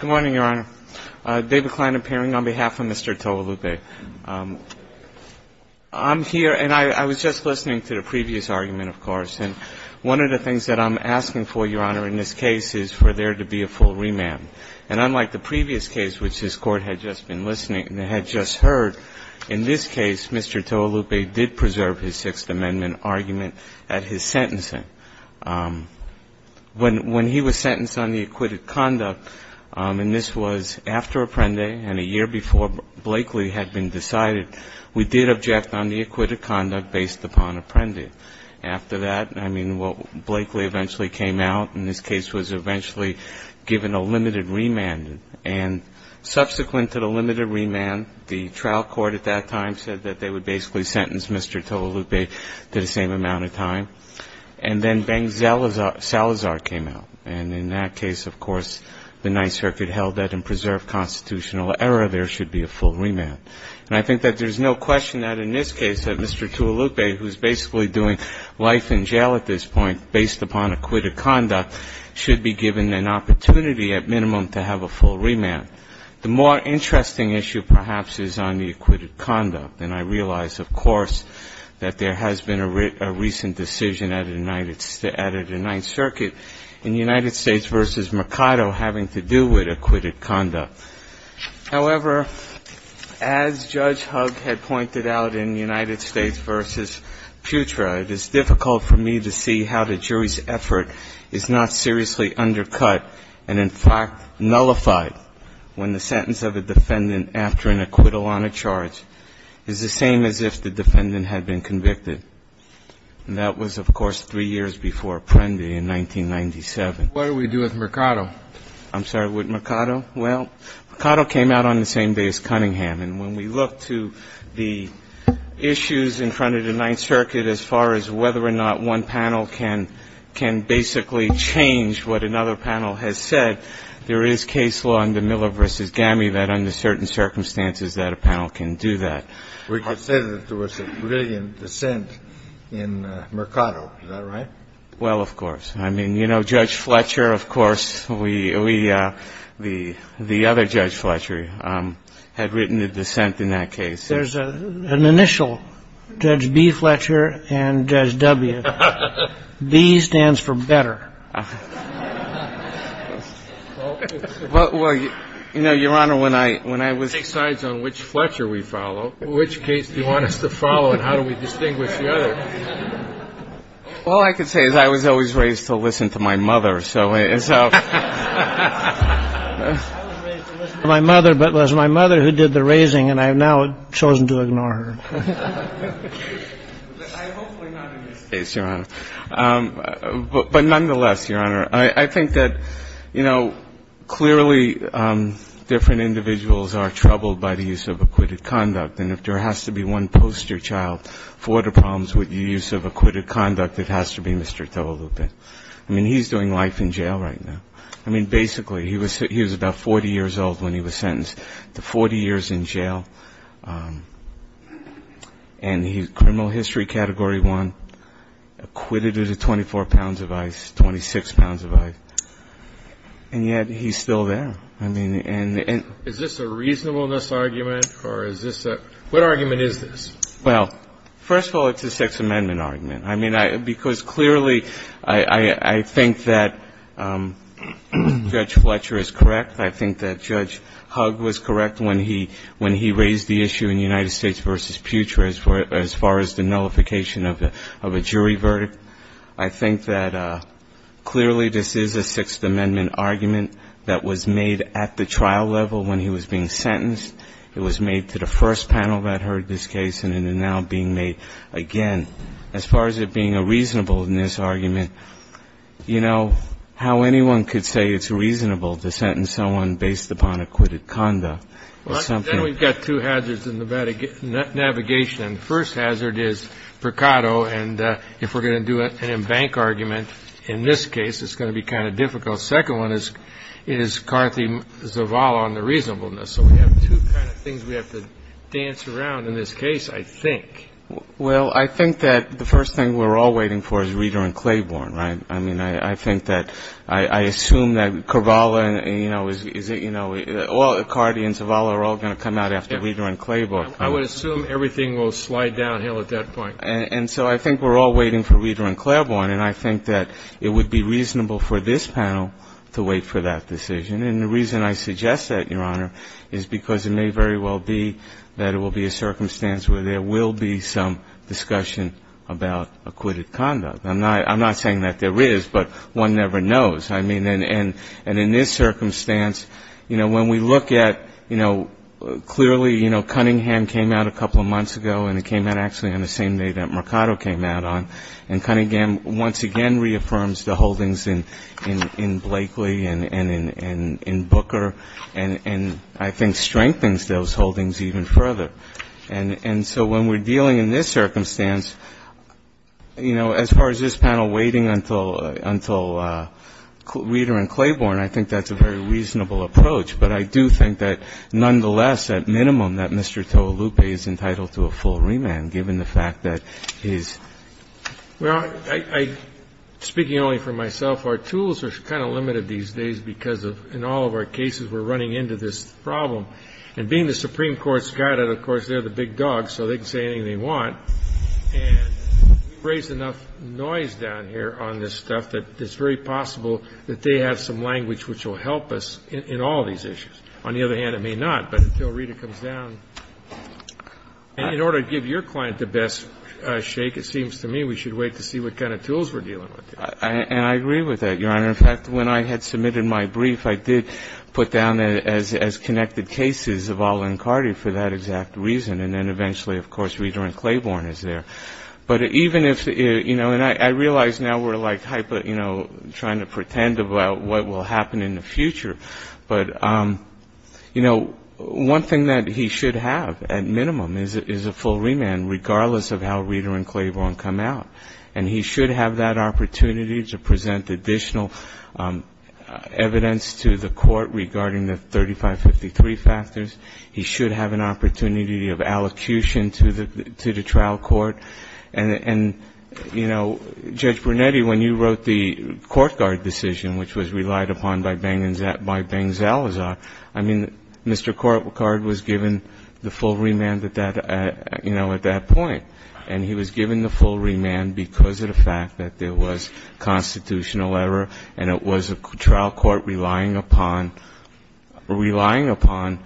Good morning, Your Honor. David Kline, appearing on behalf of Mr. Toelupe. I'm here and I was just listening to the previous argument, of course, and one of the things that I'm asking for, Your Honor, in this case is for there to be a full remand. And unlike the previous case, which this Court had just been listening and had just heard, in this case, Mr. Toelupe did preserve his Sixth Amendment argument at his sentencing. When he was sentenced on the acquitted conduct, and this was after Apprendi and a year before Blakely had been decided, we did object on the acquitted conduct based upon Apprendi. After that, I mean, Blakely eventually came out and this case was eventually given a limited remand. And subsequent to Mr. Toelupe to the same amount of time. And then Ben Salazar came out. And in that case, of course, the Ninth Circuit held that in preserved constitutional error there should be a full remand. And I think that there's no question that in this case that Mr. Toelupe, who's basically doing life in jail at this point based upon acquitted conduct, should be given an opportunity at minimum to have a full remand. The more interesting issue, perhaps, is on the acquitted conduct. And I realize, of course, that there has been a recent decision at a Ninth Circuit in United States v. Mercado having to do with acquitted conduct. However, as Judge Hugg had pointed out in United States v. Putra, it is difficult for me to see how the jury's effort is not seriously undercut and, in fact, nullified when the sentence of a defendant after an acquittal on a charge is the same as if the defendant had been convicted. And that was, of course, three years before Apprendi in 1997. What do we do with Mercado? I'm sorry, with Mercado? Well, Mercado came out on the same day as Cunningham. And when we look to the issues in front of the Ninth Circuit as far as whether or not one panel can basically change what another panel has said, there is case law under Miller v. Gammie that under certain circumstances that a panel can do that. We could say that there was a brilliant dissent in Mercado. Is that right? Well, of course. I mean, you know, Judge Fletcher, of course, we — the other Judge Fletcher had written a dissent in that case. There's an initial, Judge B. Fletcher and Judge W. B stands for better. Well, you know, Your Honor, when I was — It takes sides on which Fletcher we follow. In which case do you want us to follow and how do we distinguish the other? All I can say is I was always raised to listen to my mother, so — I was raised to listen to my mother, but it was my mother who did the raising, and I have now chosen to ignore her. But hopefully not in this case, Your Honor. But nonetheless, Your Honor, I think that, you know, clearly different individuals are troubled by the use of acquitted conduct. And if there has to be one poster child for the problems with the use of acquitted conduct, it has to be Mr. Tovalupe. I mean, he's doing life in jail right now. I mean, basically, he was about 40 years old when he was sentenced to 40 years in jail, and he's criminal history Category 1, acquitted with 24 pounds of ice, 26 pounds of ice, and yet he's still there. I mean, and — Is this a reasonableness argument, or is this a — what argument is this? Well, first of all, it's a Sixth Amendment argument. I mean, because clearly I think that Judge Fletcher is correct. I think that Judge Hugg was correct when he raised the issue in United States v. Putre as far as the nullification of a jury verdict. I think that clearly this is a Sixth Amendment argument that was made at the trial level when he was being acquitted, and is now being made again. As far as it being a reasonableness argument, you know, how anyone could say it's reasonable to sentence someone based upon acquitted conduct or something. Then we've got two hazards in the navigation. The first hazard is Percado, and if we're going to do an embank argument in this case, it's going to be kind of difficult. The second one is Carthy Zavala on the reasonableness. So we have two kind of things we have to dance around in this case, I think. Well, I think that the first thing we're all waiting for is Reeder and Claiborne, right? I mean, I think that — I assume that Carvalho, you know, is — you know, Carthy and Zavala are all going to come out after Reeder and Claiborne. I would assume everything will slide downhill at that point. And so I think we're all waiting for Reeder and Claiborne, and I think that it would be a circumstance where there will be some discussion about acquitted conduct. I'm not saying that there is, but one never knows. I mean, and in this circumstance, you know, when we look at, you know, clearly, you know, Cunningham came out a couple of months ago, and he came out actually on the same day that Mercado came out on. And Cunningham once again reaffirms the holdings in Blakely and in Booker, and I think it strengthens those holdings even further. And so when we're dealing in this circumstance, you know, as far as this panel waiting until Reeder and Claiborne, I think that's a very reasonable approach. But I do think that, nonetheless, at minimum, that Mr. Tolupe is entitled to a full remand, given the fact that his — Well, I — speaking only for myself, our tools are kind of limited these days because of — in all of our cases, we're running into this problem. And being the Supreme Court's guide, of course, they're the big dogs, so they can say anything they want. And we've raised enough noise down here on this stuff that it's very possible that they have some language which will help us in all these issues. On the other hand, it may not. But until Reeder comes down — and in order to give your client the best shake, it seems to me we should wait to see what kind of tools we're dealing with here. And I agree with that, Your Honor. In fact, when I had submitted my brief, I did put down as connected cases of all-in Cardi for that exact reason. And then eventually, of course, Reeder and Claiborne is there. But even if — you know, and I realize now we're like hyper — you know, trying to pretend about what will happen in the future. But, you know, one thing that he should have at minimum is a full remand, regardless of how Reeder and Claiborne come out. And he should have that opportunity to present additional evidence to the Court regarding the 3553 factors. He should have an opportunity of allocution to the trial court. And, you know, Judge Brunetti, when you wrote the court guard decision, which was relied upon by Beng Zalazar, I mean, Mr. Cardi was given the full remand at that — you know, at that point. And he was given the full remand because of the fact that there was constitutional error and it was a trial court relying upon — relying upon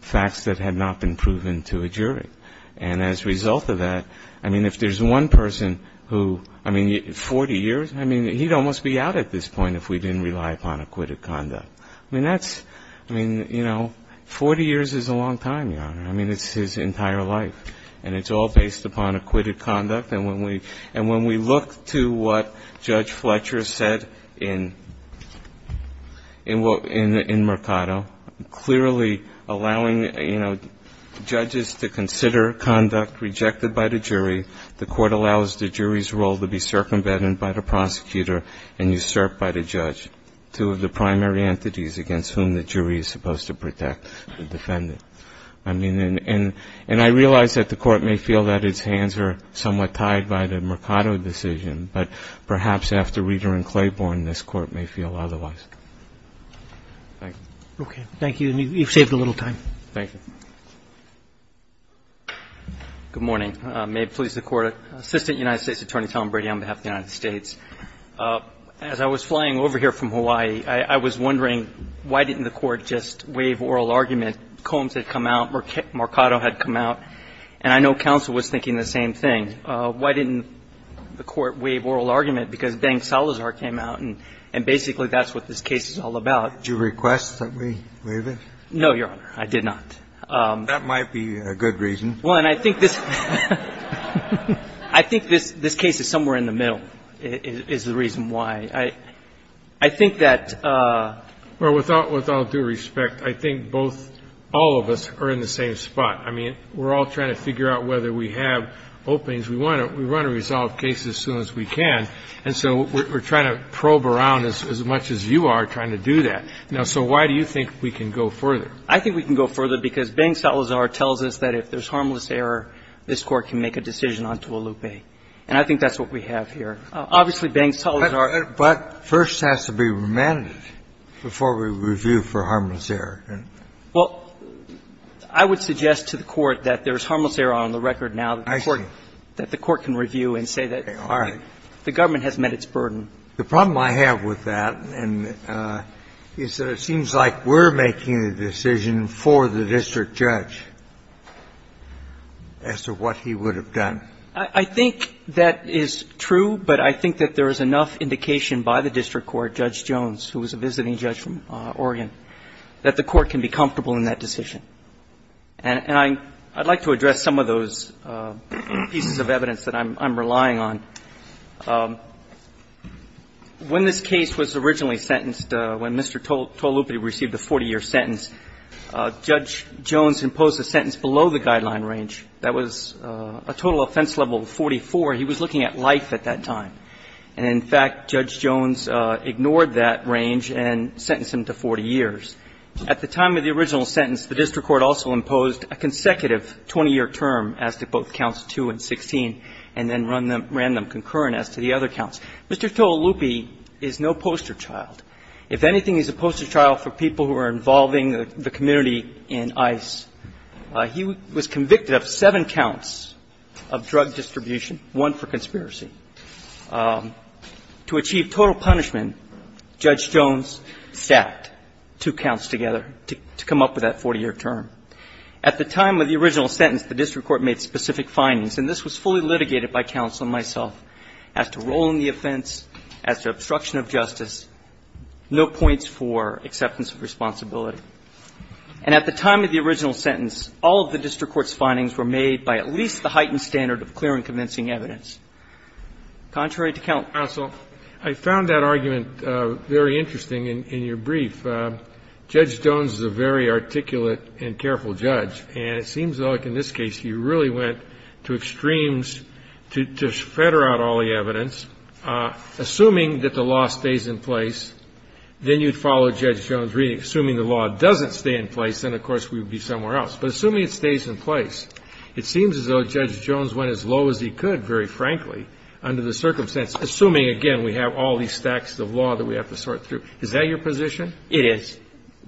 facts that had not been proven to a jury. And as a result of that, I mean, if there's one person who — I mean, 40 years? I mean, he'd almost be out at this point if we didn't rely upon acquitted conduct. I mean, that's — I mean, you know, 40 years is a long time, Your Honor. I mean, it's his entire life. And it's all based upon acquitted conduct. And when we — and when we look to what Judge Fletcher said in Mercado, clearly allowing, you know, judges to consider conduct rejected by the jury, the Court allows the jury's role to be circumvented by the prosecutor and usurped by the judge, two of the primary entities against whom the jury is supposed to protect the defendant. I mean, and — and I realize that the Court may feel that its hands are somewhat tied by the Mercado decision, but perhaps after Reader and Claiborne, this Court may feel otherwise. Thank you. Roberts. Okay. Thank you. And you've saved a little time. Thank you. Good morning. May it please the Court. Assistant United States Attorney Tom Brady on behalf of the United States. As I was flying over here from Hawaii, I was wondering why didn't the Court just waive oral argument? Combs had come out, Mercado had come out, and I know counsel was thinking the same thing. Why didn't the Court waive oral argument? Because Deng Salazar came out, and basically that's what this case is all about. Did you request that we waive it? No, Your Honor. I did not. That might be a good reason. Well, and I think this — I think this case is somewhere in the middle is the reason why. I think that — Well, without due respect, I think both — all of us are in the same spot. I mean, we're all trying to figure out whether we have openings. We want to resolve cases as soon as we can, and so we're trying to probe around as much as you are trying to do that. Now, so why do you think we can go further? I think we can go further because Deng Salazar tells us that if there's harmless error, this Court can make a decision onto a loupé. And I think that's what we have here. Obviously, Deng Salazar — But first has to be remanded before we review for harmless error. Well, I would suggest to the Court that there's harmless error on the record now that the Court can review and say that the Government has met its burden. The problem I have with that is that it seems like we're making the decision for the district judge as to what he would have done. I think that is true, but I think that there is enough indication by the district court, Judge Jones, who was a visiting judge from Oregon, that the Court can be comfortable in that decision. And I'd like to address some of those pieces of evidence that I'm relying on. When this case was originally sentenced, when Mr. Tolupati received the 40-year sentence, Judge Jones imposed a sentence below the guideline range that was a total offense level of 44. He was looking at life at that time. And in fact, Judge Jones ignored that range and sentenced him to 40 years. At the time of the original sentence, the district court also imposed a consecutive 20-year term as to both counts 2 and 16, and then ran them concurrent as to the other counts. Mr. Tolupati is no poster child. If anything, he's a poster child for people who are involving the community in ICE. He was convicted of seven counts of drug distribution, one for conspiracy. To achieve total punishment, Judge Jones stacked two counts together to come up with that 40-year term. At the time of the original sentence, the district court made specific findings and this was fully litigated by counsel and myself as to role in the offense, as to obstruction of justice, no points for acceptance of responsibility. And at the time of the original sentence, all of the district court's findings were made by at least the heightened standard of clear and convincing evidence, contrary to counsel. I found that argument very interesting in your brief. Judge Jones is a very articulate and careful judge, and it seems like in this case you really went to extremes to fetter out all the evidence, assuming that the law stays in place. If the law stays in place, then you'd follow Judge Jones, assuming the law doesn't stay in place, then of course we would be somewhere else. But assuming it stays in place, it seems as though Judge Jones went as low as he could, very frankly, under the circumstance, assuming, again, we have all these stacks of law that we have to sort through. Is that your position? It is,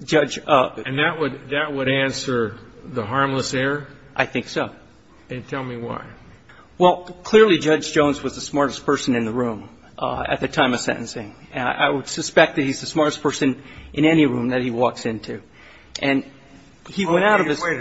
Judge. And that would answer the harmless error? I think so. And tell me why. Well, clearly Judge Jones was the smartest person in the room at the time of sentencing. And I would suspect that he's the smartest person in any room that he walks into. And he went out of his way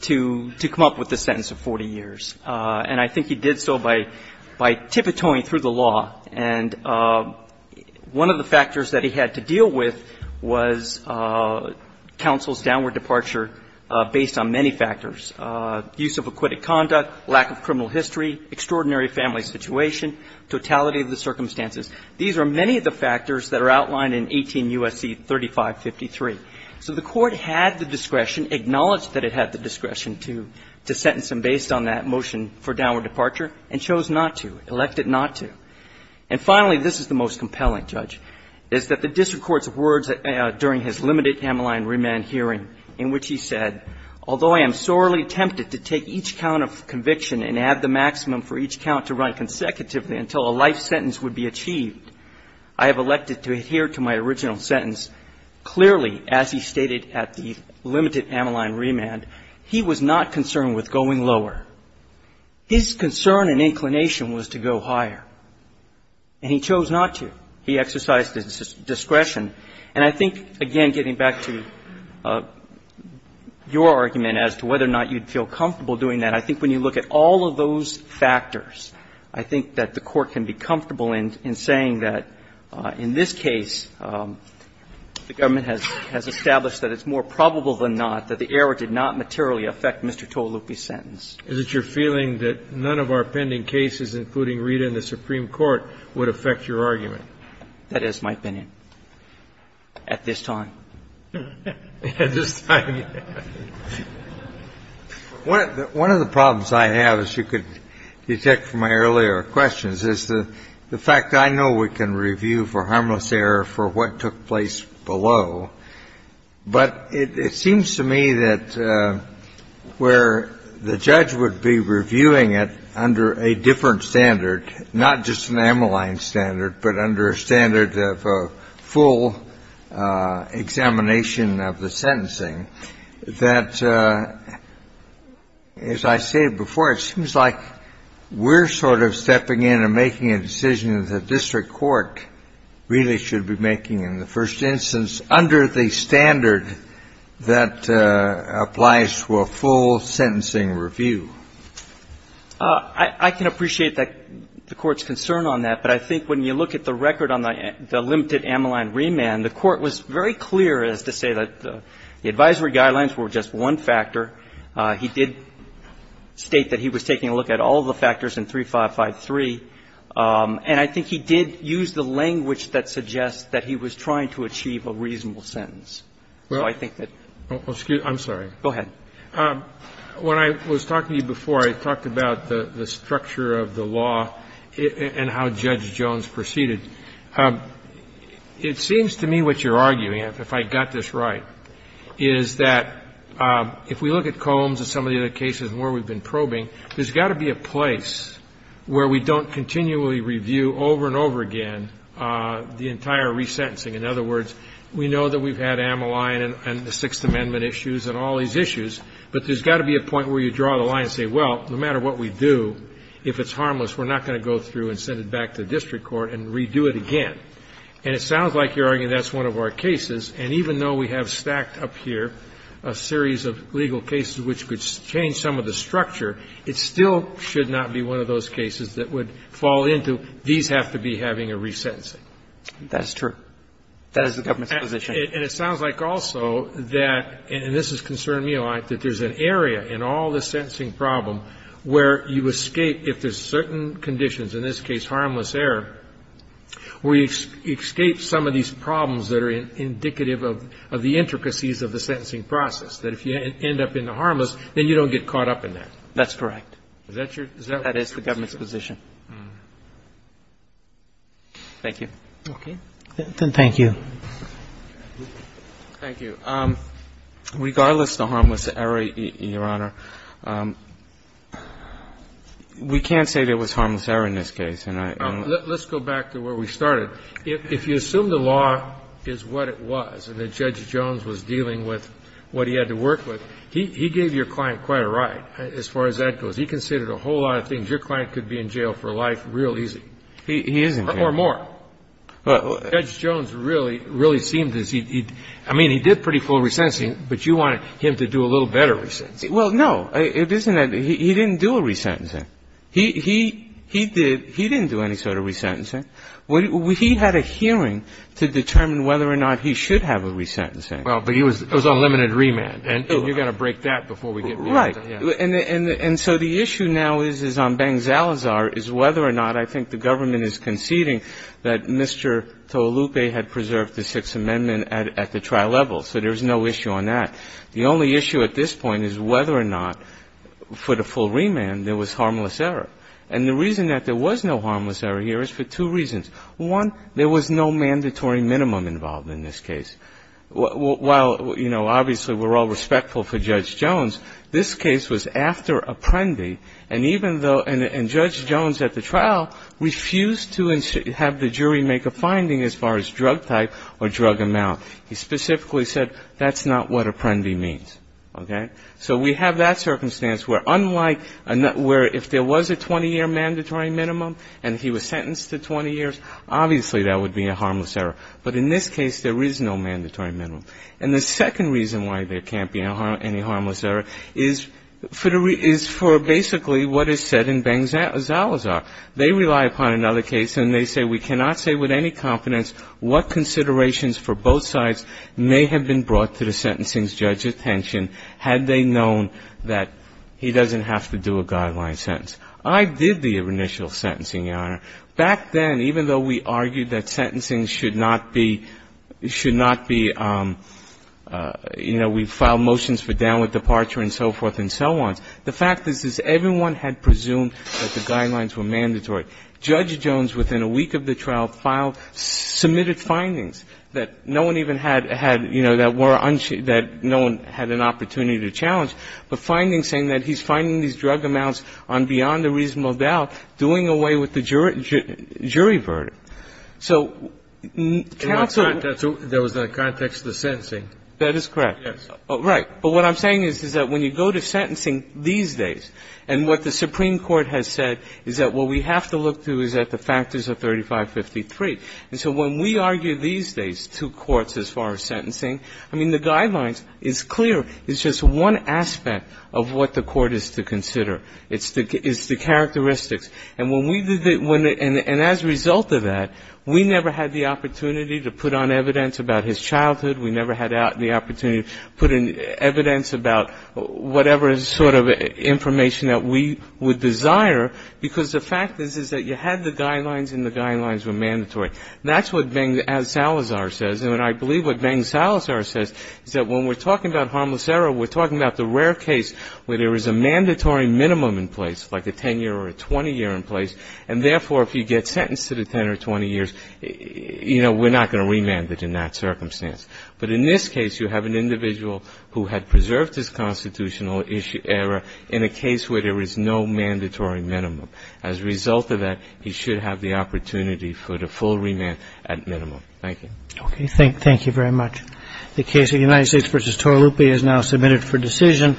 to come up with this sentence of 40 years. And I think he did so by tiptoeing through the law. And one of the factors that he had to deal with was counsel's downward departure based on many factors, use of acquitted conduct, lack of criminal history, extraordinary family situation, totality of the circumstances. These are many of the factors that are outlined in 18 U.S.C. 3553. So the Court had the discretion, acknowledged that it had the discretion to sentence him based on that motion for downward departure, and chose not to, elected not to. And finally, this is the most compelling, Judge, is that the district court's words during his limited Ammaline remand hearing in which he said, although I am sorely tempted to take each count of conviction and add the maximum for each count to run consecutively until a life sentence would be achieved, I have elected to adhere to my original sentence. Clearly, as he stated at the limited Ammaline remand, he was not concerned with going lower. His concern and inclination was to go higher. And he chose not to. He exercised his discretion. And I think, again, getting back to your argument as to whether or not you'd feel comfortable doing that, I think when you look at all of those factors, I think that the Court can be comfortable in saying that in this case, the government has established that it's more probable than not that the error did not materially affect Mr. Tolupe's sentence. Kennedy. Is it your feeling that none of our pending cases, including Rita in the Supreme Court, would affect your argument? That is my opinion at this time. At this time, yes. One of the problems I have, as you could detect from my earlier questions, is the fact that I know we can review for harmless error for what took place below, but it seems to me that where the judge would be reviewing it under a different standard, not just an Ammaline standard, but under a standard of a full examination of the sentencing, that, as I stated before, it seems like we're sort of stepping in and making a decision that the district court really should be making in the first instance under the standard that applies to a full sentencing review. I can appreciate the Court's concern on that, but I think when you look at the record on the limited Ammaline remand, the Court was very clear as to say that the advisory guidelines were just one factor. He did state that he was taking a look at all of the factors in 3553. And I think he did use the language that suggests that he was trying to achieve a reasonable sentence. So I think that that's fair. I'm sorry. Go ahead. When I was talking to you before, I talked about the structure of the law and how Judge Jones proceeded. It seems to me what you're arguing, if I got this right, is that if we look at Combs and some of the other cases where we've been probing, there's got to be a place where we don't continually review over and over again the entire resentencing. In other words, we know that we've had Ammaline and the Sixth Amendment issues and all these issues, but there's got to be a point where you draw the line and say, well, no matter what we do, if it's harmless, we're not going to go through and send it back to the district court and redo it again. And it sounds like you're arguing that's one of our cases. And even though we have stacked up here a series of legal cases which could change some of the structure, it still should not be one of those cases that would fall into, these have to be having a resentencing. That's true. That is the government's position. And it sounds like also that, and this has concerned me a lot, that there's an area in all the sentencing problem where you escape, if there's certain conditions, in this case harmless error, where you escape some of these problems that are indicative of the intricacies of the sentencing process, that if you end up in the harmless, then you don't get caught up in that. That's correct. Is that your position? That is the government's position. Thank you. Okay. Then thank you. Thank you. Regardless of the harmless error, Your Honor, we can't say there was harmless error in this case. Let's go back to where we started. Your Honor, if you assume the law is what it was and that Judge Jones was dealing with what he had to work with, he gave your client quite a ride as far as that goes. He considered a whole lot of things. Your client could be in jail for life real easy. He isn't. Or more. Judge Jones really, really seemed as he, I mean, he did pretty full resentencing, but you wanted him to do a little better resentencing. Well, no. It isn't that he didn't do a resentencing. He did, he didn't do any sort of resentencing. He had a hearing to determine whether or not he should have a resentencing. Well, but he was on limited remand. And you're going to break that before we get beyond that. Right. And so the issue now is on Bang-Zalazar is whether or not I think the government is conceding that Mr. Tolupe had preserved the Sixth Amendment at the trial level. So there's no issue on that. The only issue at this point is whether or not for the full remand there was harmless error. And the reason that there was no harmless error here is for two reasons. One, there was no mandatory minimum involved in this case. While, you know, obviously we're all respectful for Judge Jones, this case was after Apprendi, and even though, and Judge Jones at the trial refused to have the jury make a finding as far as drug type or drug amount. He specifically said that's not what Apprendi means. Okay? So we have that circumstance where unlike where if there was a 20-year mandatory minimum and he was sentenced to 20 years, obviously there would be a harmless error. But in this case, there is no mandatory minimum. And the second reason why there can't be any harmless error is for basically what is said in Bang-Zalazar. They rely upon another case, and they say, we cannot say with any confidence what considerations for both sides may have been brought to the sentencing judge's attention had they known that he doesn't have to do a guideline sentence. I did the initial sentencing, Your Honor. Back then, even though we argued that sentencing should not be, should not be, you know, we filed motions for downward departure and so forth and so on, the fact is, is everyone had presumed that the guidelines were mandatory. Judge Jones, within a week of the trial, filed, submitted findings that no one even had, had, you know, that were, that no one had an opportunity to challenge, but findings saying that he's finding these drug amounts on beyond a reasonable doubt doing away with the jury verdict. So counsel ---- There was no context to the sentencing. That is correct. Yes. Right. But what I'm saying is, is that when you go to sentencing these days, and what the Supreme Court has said is that what we have to look to is that the factors are 3553. And so when we argue these days to courts as far as sentencing, I mean, the guidelines is clear, it's just one aspect of what the court is to consider. It's the characteristics. And when we did the ---- and as a result of that, we never had the opportunity to put on evidence about his childhood. We never had the opportunity to put in evidence about whatever sort of information that we would desire, because the fact is, is that you had the guidelines and the guidelines were mandatory. That's what Beng Salazar says. And I believe what Beng Salazar says is that when we're talking about harmless error, we're talking about the rare case where there is a mandatory minimum in place, like a 10-year or a 20-year in place. And therefore, if you get sentenced to the 10 or 20 years, you know, we're not going to remand it in that circumstance. But in this case, you have an individual who had preserved his constitutional error in a case where there is no mandatory minimum. As a result of that, he should have the opportunity for the full remand at minimum. Thank you. Okay. Thank you very much. The case of United States v. Torralupi is now submitted for decision.